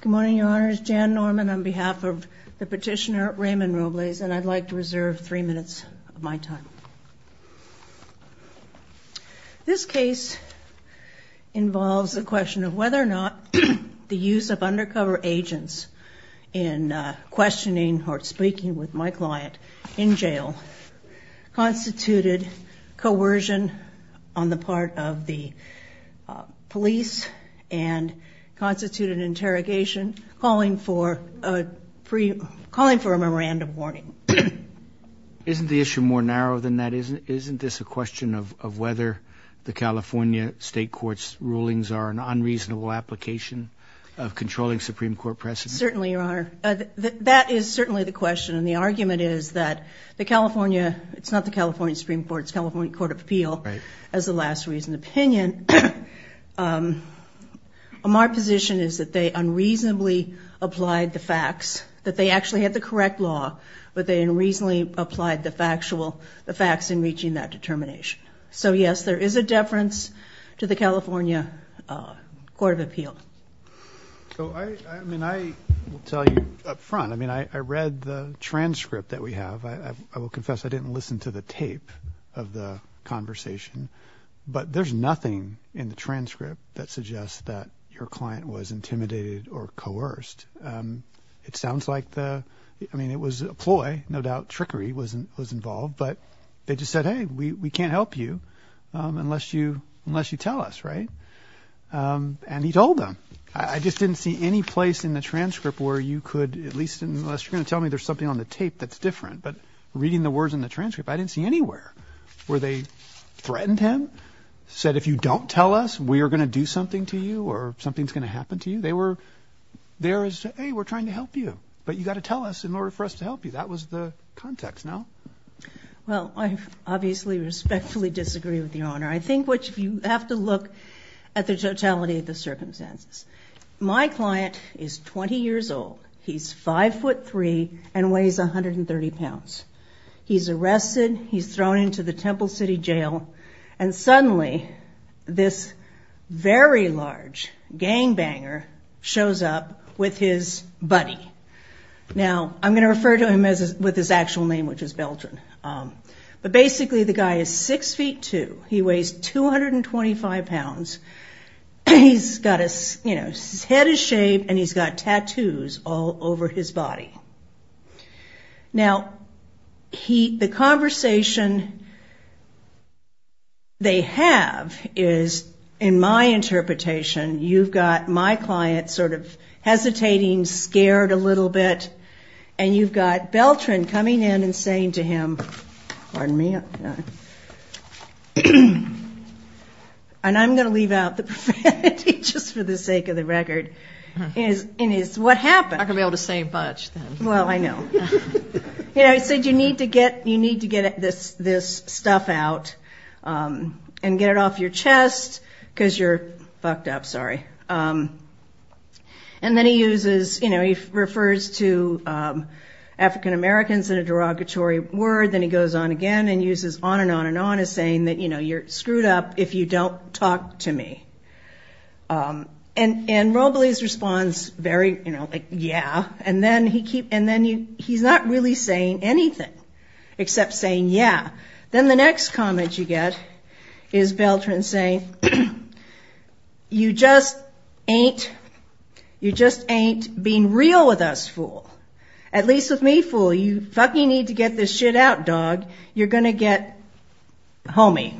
Good morning your honors, Jan Norman on behalf of the petitioner Raymond Robles and I'd like to reserve three minutes of my time. This case involves the question of whether or not the use of undercover agents in questioning or speaking with my client in jail constituted coercion on the part of the police and constituted interrogation calling for a free, calling for a memorandum warning. Isn't the issue more narrow than that? Isn't this a question of whether the California state courts rulings are an unreasonable application of controlling Supreme Court precedent? Certainly your honor, that is certainly the question and the argument is that the California, it's not the California Supreme Court, it's the California Court of Appeal as the last reason opinion. My position is that they unreasonably applied the facts, that they actually had the correct law, but they unreasonably applied the factual, the facts in reaching that determination. So yes, there is a deference to the California Court of Appeal. I mean I will tell you up front, I mean I read the transcript that we have, I will tell you the whole conversation, but there's nothing in the transcript that suggests that your client was intimidated or coerced. It sounds like the, I mean it was a ploy, no doubt trickery was involved, but they just said, hey, we can't help you unless you, unless you tell us, right? And he told them. I just didn't see any place in the transcript where you could, at least unless you're gonna tell me there's something on the tape that's different, but reading the words in the transcript, I didn't see anywhere where they threatened him, said if you don't tell us we are gonna do something to you or something's gonna happen to you. They were there as, hey, we're trying to help you, but you got to tell us in order for us to help you. That was the context, no? Well, I obviously respectfully disagree with the Honor. I think what you have to look at the totality of the circumstances. My client is 20 years old. He's 5'3 and weighs 130 pounds. He's arrested, he's thrown into the Temple City Jail, and suddenly this very large gangbanger shows up with his buddy. Now, I'm gonna refer to him as, with his actual name, which is Beltran, but basically the guy is 6'2. He weighs 225 pounds. He's got a, you know, his head is tattooed all over his body. Now, the conversation they have is, in my interpretation, you've got my client sort of hesitating, scared a little bit, and you've got Beltran coming in and saying to him, pardon me, and I'm gonna leave out the profanity just for the sake of the record, and it's what happened. I couldn't be able to say much then. Well, I know. Yeah, I said, you need to get, you need to get this stuff out and get it off your chest because you're fucked up. Sorry. And then he uses, you know, he refers to African-Americans in a derogatory word, then he goes on again and uses on and on and on as saying that, you know, you're screwed up if you don't talk to me. And Roble's response, very, you know, like, yeah, and then he keeps, and then he's not really saying anything except saying yeah. Then the next comment you get is Beltran saying, you just ain't, you just ain't being real with us, fool. At least with me, fool, you fucking need to get this shit out, dog. You're gonna get homie.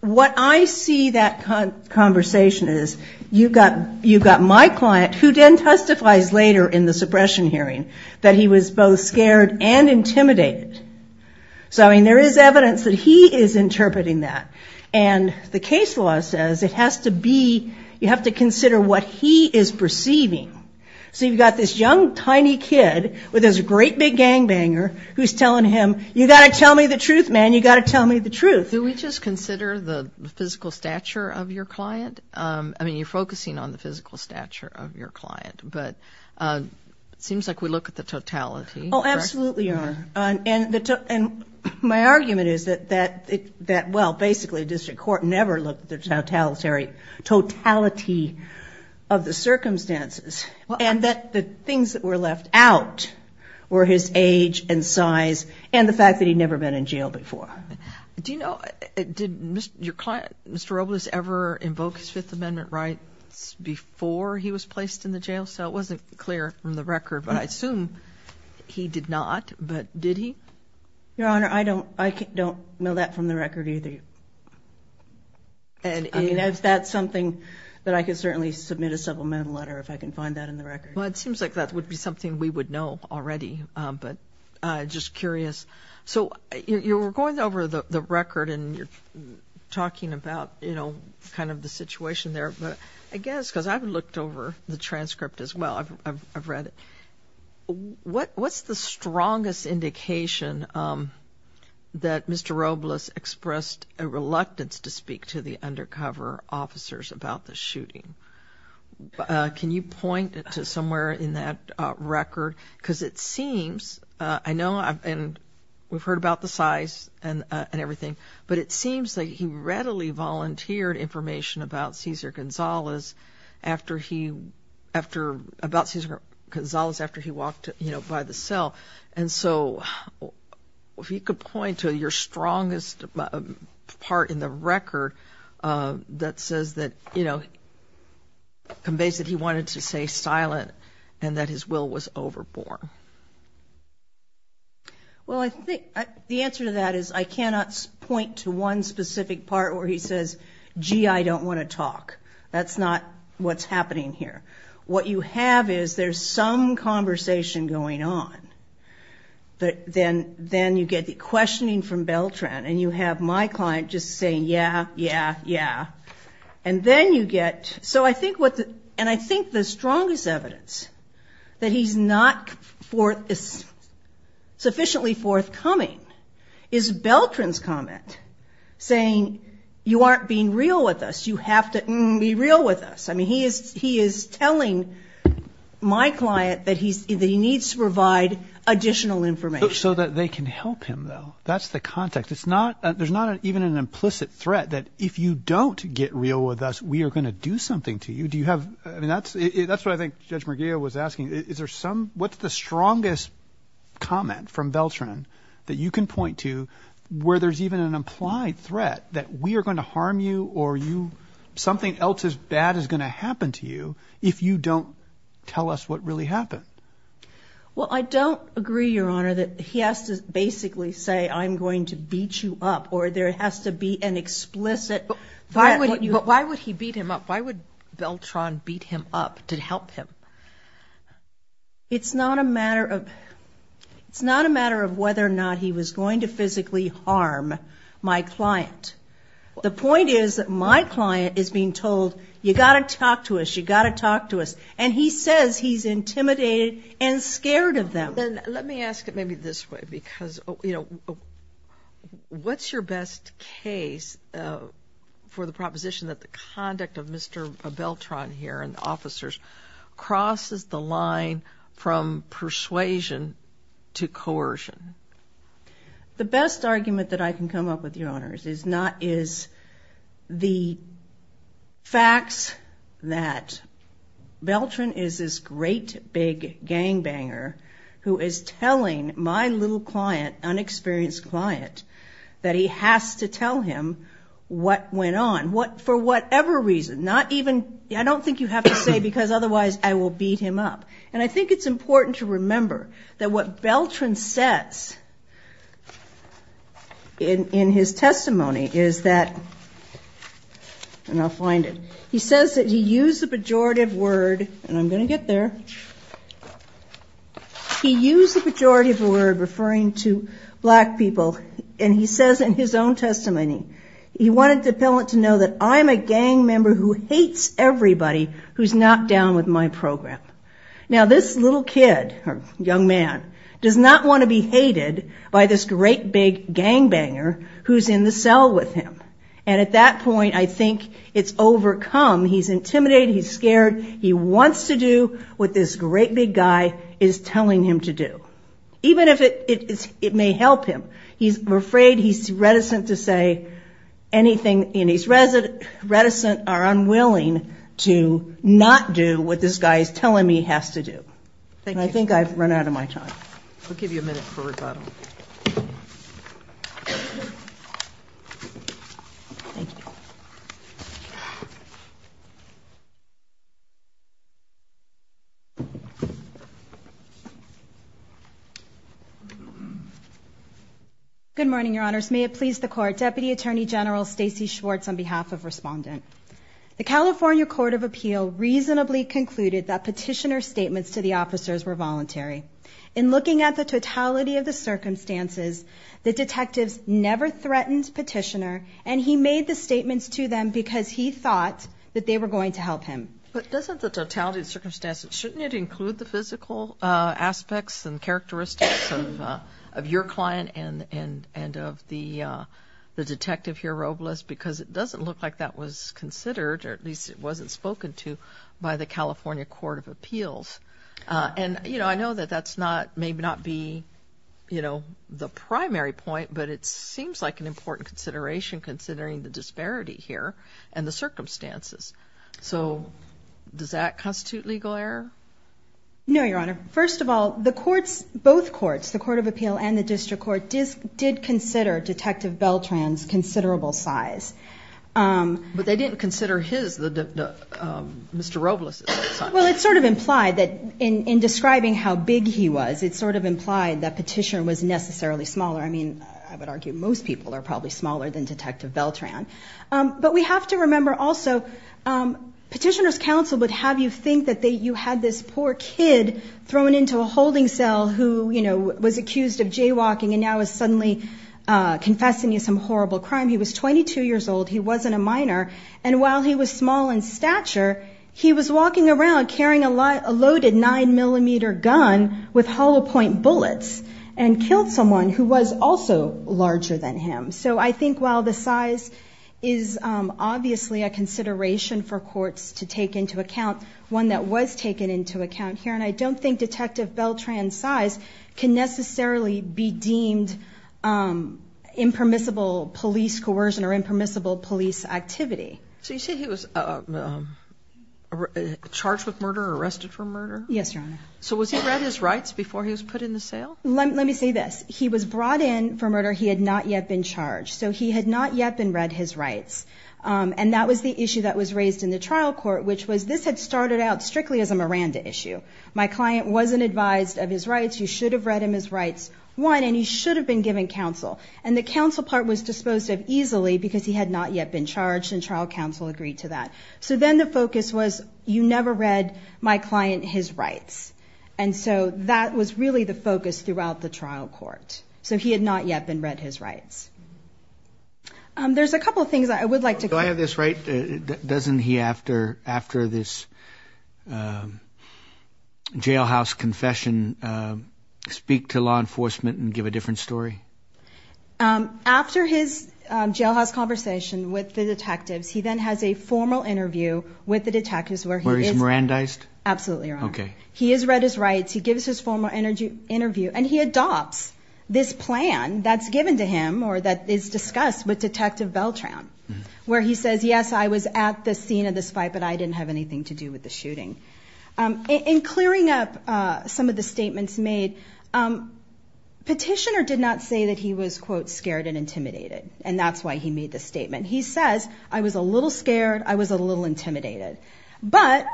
What I see that conversation is, you've got my client who then testifies later in the suppression hearing that he was both scared and intimidated. So, I mean, there is evidence that he is interpreting that. And the case law says it has to be, you have to consider what he is perceiving. So, you've got this young, tiny kid with his great big gangbanger who's telling him, you've got to tell me the truth, man. You've got to tell me the truth. Do we just consider the physical stature of your client? I mean, you're focusing on the physical stature of your client, but it seems like we look at the totality. Oh, absolutely, Your Honor. And my argument is that, well, basically district court never looked at the totality of the circumstances and that the things that were left out were his age and size and the fact that he'd never been in jail before. Do you know, did your client, Mr. Robles, ever invoke his Fifth Amendment rights before he was placed in the jail? So, it wasn't clear from the record, but I assume he did not, but did he? Your Honor, I don't know that from the record either. And if that's something that I could certainly submit a supplemental letter if I can find that in the record. Well, it seems like that would be something we would know already, but just curious. So, you were going over the record and you're talking about, you know, kind of the situation there, but I guess, because I've looked over the transcript as well, I've read it. What's the strongest indication that Mr. Robles expressed a reluctance to speak to the undercover officers about the shooting? Can you point to somewhere in that record? Because it seems, I know, and we've heard about the size and everything, but it seems like he readily volunteered information about Cesar Gonzalez after he walked by the cell. And so, if you could point to your strongest part in the record that says that, you know, conveys that he wanted to stay silent and that his will was overborne. Well, I think the answer to that is I cannot point to one specific part where he says, gee, I don't want to talk. That's not what's happening here. What you have is there's some conversation going on, but then you get the questioning from Beltran and you have my client just saying, yeah, yeah, yeah. And then you get, so I think what, and I think the strongest evidence that he's not sufficiently forthcoming is Beltran's comment saying, you aren't being real with us. You have to be real with us. I mean, he is telling my client that he needs to provide additional information. So that they can help him, though. That's the context. It's not, there's not even an implicit threat that if you don't get real with us, we are going to do something to you. Do you have, I mean, that's what I think Judge Murguia was asking. Is there some, what's the strongest comment from Beltran that you can point to where there's even an implied threat that we are going to harm you or you, something else as bad is going to happen to you if you don't tell us what really happened? Well, I don't agree, Your Honor, that he has to basically say, I'm going to beat you up, or there has to be an explicit... But why would he beat him up? Why would Beltran beat him up to help him? It's not a matter of, it's not a matter of whether or not he was going to physically harm my client. The point is that my client is being told, you got to talk to us, you got to talk to us. And he says he's intimidated and scared of them. Then let me ask it maybe this way, because, you know, what's your best case for the proposition that the conduct of Mr. Beltran here and the officers crosses the line from persuasion to coercion? The best argument that I can come up with, Your Honors, is not, is the facts that Beltran is this great big gangbanger who is telling my little client, unexperienced client, that he has to tell him what went on. What, for whatever reason, not even, I don't think you have to say because otherwise I will beat him up. And I think it's important to remember that what Beltran says in his testimony is that, and I'll find it, he says that he used the pejorative word, and I'm going to get there, he used the pejorative word referring to he wanted the appellant to know that I'm a gang member who hates everybody who's not down with my program. Now this little kid, young man, does not want to be hated by this great big gangbanger who's in the cell with him. And at that point I think it's overcome, he's intimidated, he's scared, he wants to do what this great big guy is telling him to do. Even if it may help him, he's afraid, he's reticent to say anything, and he's reticent or unwilling to not do what this guy is telling me he has to do. And I think I've run out of my time. I'll give you a minute for questions. Good morning, your honors. May it please the court. Deputy Attorney General Stacy Schwartz on behalf of Respondent. The California Court of Appeal reasonably concluded that petitioner statements to the officers were voluntary. In looking at the totality of the circumstances, the detectives never threatened petitioner and he made the statements to them because he thought that they were going to help him. But doesn't the totality of circumstances shouldn't it include the physical aspects and characteristics of your client and of the detective here, Robles, because it doesn't look like that was considered, or at least it wasn't spoken to, by the California Court of Appeals. And I know that that may not be the primary point, but it seems like an important consideration considering the disparity here and the No, your honor. First of all, the courts, both courts, the Court of Appeal and the District Court, did consider Detective Beltran's considerable size. But they didn't consider his, Mr. Robles. Well, it sort of implied that in describing how big he was, it sort of implied that petitioner was necessarily smaller. I mean, I would argue most people are probably smaller than Detective Beltran. But we have to remember also, petitioner's counsel would have you think you had this poor kid thrown into a holding cell who was accused of jaywalking and now is suddenly confessing to some horrible crime. He was 22 years old. He wasn't a minor. And while he was small in stature, he was walking around carrying a loaded nine millimeter gun with hollow point bullets and killed someone who was also larger than him. So I think while the size is obviously a consideration for courts to take into account, one that was taken into account here, and I don't think Detective Beltran's size can necessarily be deemed impermissible police coercion or impermissible police activity. So you say he was charged with murder or arrested for murder? Yes, your honor. So was he read his rights before he was put in the cell? Let me say this. He was brought in for murder. He had not yet been charged. So he had not yet been read his rights. And that was the issue that was raised in the trial court, which was this had started out strictly as a Miranda issue. My client wasn't advised of his rights. You should have read him his rights, one, and he should have been given counsel. And the counsel part was disposed of easily because he had not yet been charged and trial counsel agreed to that. So then the focus was you never read my client his rights. And so that was really the focus throughout the trial court. So he had not yet been read his rights. There's a couple of things I would like to... Do I have this right? Doesn't he, after this jailhouse confession, speak to law enforcement and give a different story? After his jailhouse conversation with the detectives, he then has a formal interview with the detectives where he is... Where he's Mirandized? Absolutely, your honor. Okay. He has read his rights. He gives his formal interview and he adopts this plan that's given to him or that is discussed with Detective Beltran where he says, yes, I was at the scene of this fight, but I didn't have anything to do with the shooting. In clearing up some of the statements made, petitioner did not say that he was, quote, scared and intimidated. And that's why he made the statement. He says, I was a little scared. I was a little intimidated, but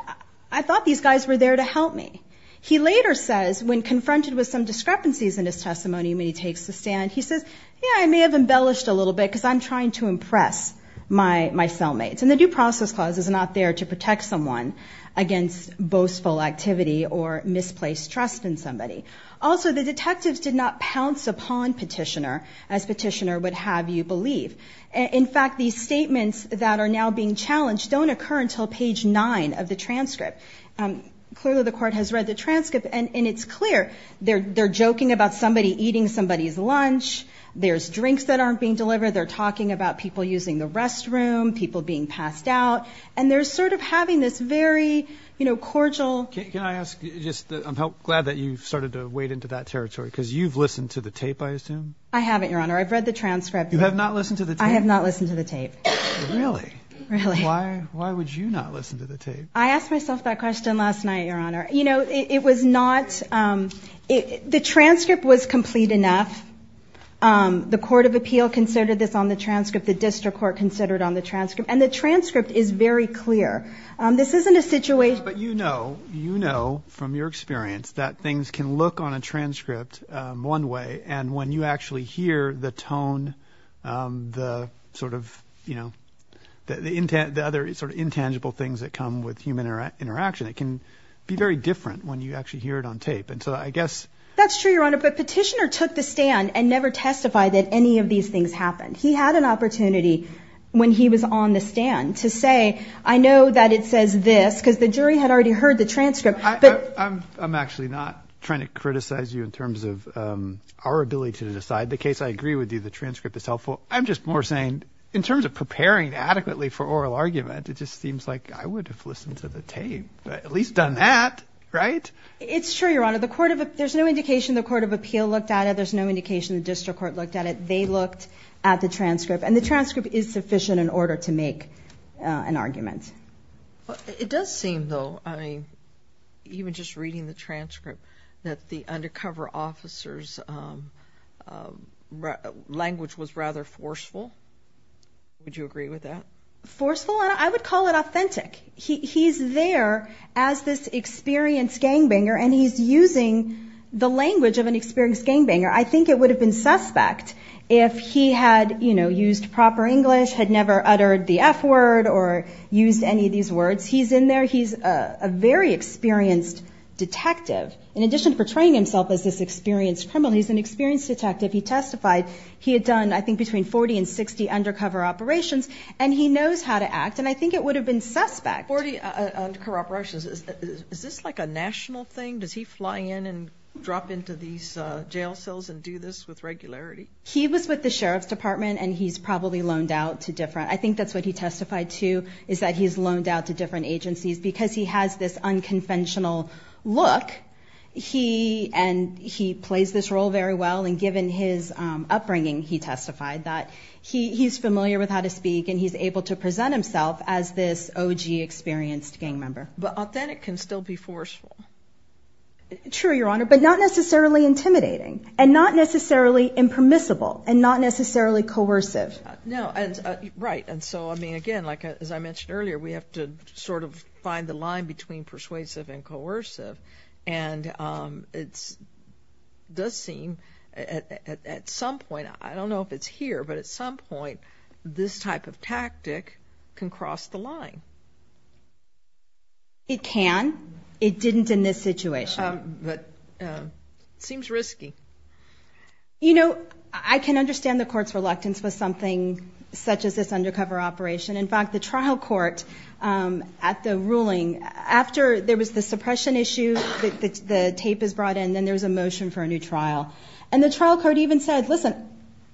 I thought these guys were there to help me. He later says, when confronted with some discrepancies in his testimony, when he takes a stand, he says, yeah, I may have embellished a little bit because I'm trying to impress my cellmates. And the due process clause is not there to protect someone against boastful activity or misplaced trust in somebody. Also, the detectives did not pounce upon petitioner as petitioner would have you believe. In fact, these statements that are now challenged don't occur until page nine of the transcript. Clearly, the court has read the transcript and it's clear they're joking about somebody eating somebody's lunch. There's drinks that aren't being delivered. They're talking about people using the restroom, people being passed out. And they're sort of having this very, you know, cordial. Can I ask, I'm glad that you started to wade into that territory because you've listened to the tape, I assume? I haven't, Your Honor. I've read the transcript. You have not listened to the tape? I have not listened to the tape. Really? Why would you not listen to the tape? I asked myself that question last night, Your Honor. You know, it was not, the transcript was complete enough. The court of appeal considered this on the transcript. The district court considered on the transcript. And the transcript is very clear. This isn't a situation. But you know, you know, from your experience, that things can look on a transcript one way and when you actually hear the tone, the sort of, you know, the other sort of intangible things that come with human interaction, it can be very different when you actually hear it on tape. And so I guess... That's true, Your Honor. But Petitioner took the stand and never testified that any of these things happened. He had an opportunity when he was on the stand to say, I know that it says this, because the jury had already heard the transcript. I'm actually not trying to criticize you in terms of our ability to decide the case. I agree with you, the transcript is helpful. I'm just more saying in terms of preparing adequately for oral argument, it just seems like I would have listened to the tape, at least done that, right? It's true, Your Honor. The court of, there's no indication the court of appeal looked at it. There's no indication the district court looked at it. They looked at the transcript and the transcript is sufficient in order to make an argument. It does seem though, I mean, even just reading the transcript, that the undercover officer's language was rather forceful. Would you agree with that? Forceful? I would call it authentic. He's there as this experienced gangbanger and he's using the language of an experienced gangbanger. I think it would have been suspect if he had used proper English, had never uttered the F word or used any of these words. He's in there, he's a very experienced detective. In addition to portraying himself as this experienced criminal, he's an experienced detective. He testified, he had done I think between 40 and 60 undercover operations and he knows how to act and I think it would have been suspect. 40 undercover operations, is this like a national thing? Does he fly in and drop into these jail cells and do this with regularity? He was with the Sheriff's Department and he's probably loaned out to different, I think that's what he testified to, is that he's loaned out to different agencies because he has this unconventional look and he plays this role very well and given his upbringing, he testified that he's familiar with how to speak and he's able to present himself as this OG experienced gang member. But authentic can still be forceful. True, Your Honor, but not necessarily intimidating and not necessarily impermissible and not necessarily coercive. No, right, and so I mean again, like as I mentioned earlier, we have to find the line between persuasive and coercive and it does seem at some point, I don't know if it's here, but at some point this type of tactic can cross the line. It can. It didn't in this situation. But it seems risky. You know, I can understand the court's reluctance with something such as this undercover operation. In fact, the trial court at the ruling, after there was the suppression issue, the tape is brought in, then there's a motion for a new trial. And the trial court even said, listen,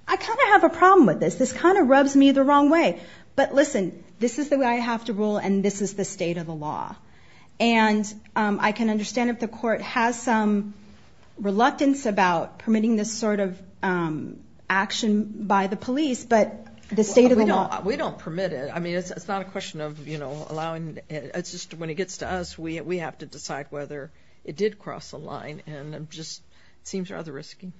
I kind of have a problem with this. This kind of rubs me the wrong way. But listen, this is the way I have to rule and this is the state of the law. And I can understand if the court has some reluctance about permitting this sort of allowing. It's just when it gets to us, we have to decide whether it did cross the line. And it just seems rather risky.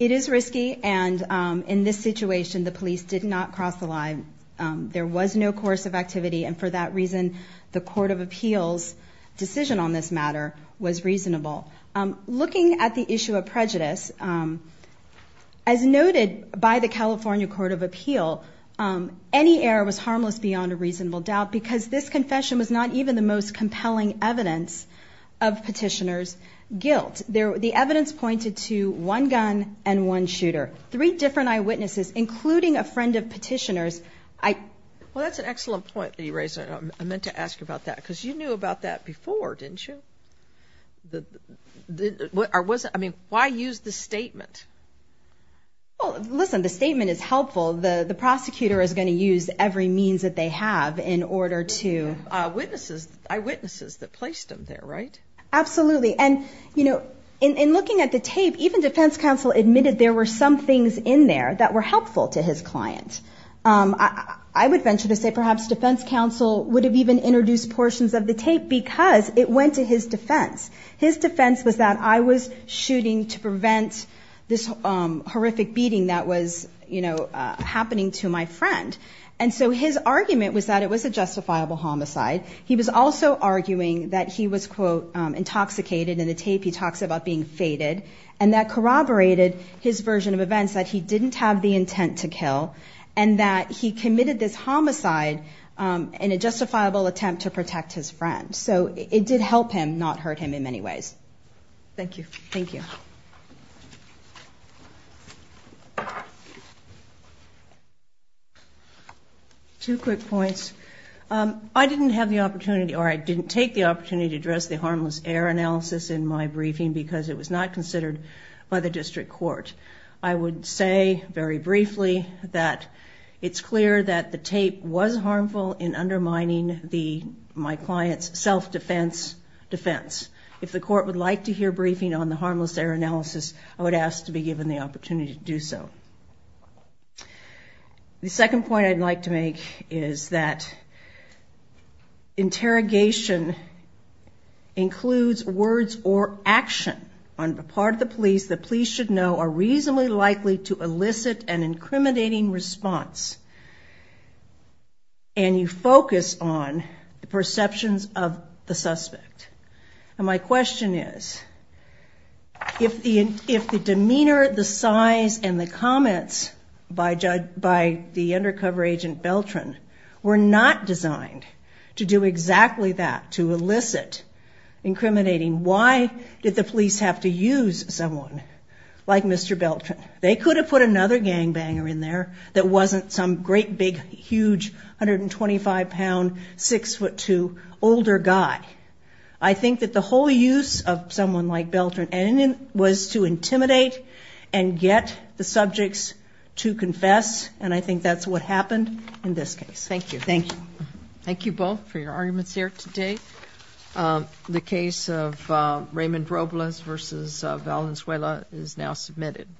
It is risky. And in this situation, the police did not cross the line. There was no coercive activity. And for that reason, the Court of Appeals decision on this matter was reasonable. Looking at the issue of prejudice, as noted by the California Court of Appeals, this confession was not even the most compelling evidence of petitioner's guilt. The evidence pointed to one gun and one shooter. Three different eyewitnesses, including a friend of petitioner's. Well, that's an excellent point that you raised. I meant to ask you about that, because you knew about that before, didn't you? Why use the statement? Well, listen, the statement is helpful. The prosecutor is going to use every means that order to... Eyewitnesses that placed them there, right? Absolutely. And in looking at the tape, even defense counsel admitted there were some things in there that were helpful to his client. I would venture to say perhaps defense counsel would have even introduced portions of the tape because it went to his defense. His defense was that I was shooting to prevent this horrific beating that was happening to my friend. And so his argument was that it was a justifiable homicide. He was also arguing that he was, quote, intoxicated in the tape. He talks about being faded and that corroborated his version of events that he didn't have the intent to kill and that he committed this homicide in a justifiable attempt to protect his friend. So it did help him, not hurt him in many ways. Thank you. Thank you. Two quick points. I didn't have the opportunity or I didn't take the opportunity to address the harmless air analysis in my briefing because it was not considered by the district court. I would say very briefly that it's clear that the tape was harmful in undermining my client's self-defense defense. If the court would like to hear briefing on the harmless air analysis, I would ask to be given the opportunity to do so. The second point I'd like to make is that interrogation includes words or action on part of the police that police should know are reasonably likely to elicit an incriminating response. And you focus on the perceptions of the suspect. And my question is, if the demeanor, the size, and the comments by the undercover agent Beltran were not designed to do exactly that, to elicit incriminating, why did the police have to use someone like Mr. Beltran? They could have put another gangbanger in there that wasn't some great, big, huge, 125-pound, 6'2", older guy. I think that the whole use of someone like Beltran was to intimidate and get the subjects to confess. And I think that's what happened in this case. Thank you. Thank you. Thank you both for your arguments here today. The case of Raymond Robles versus Valenzuela is now submitted.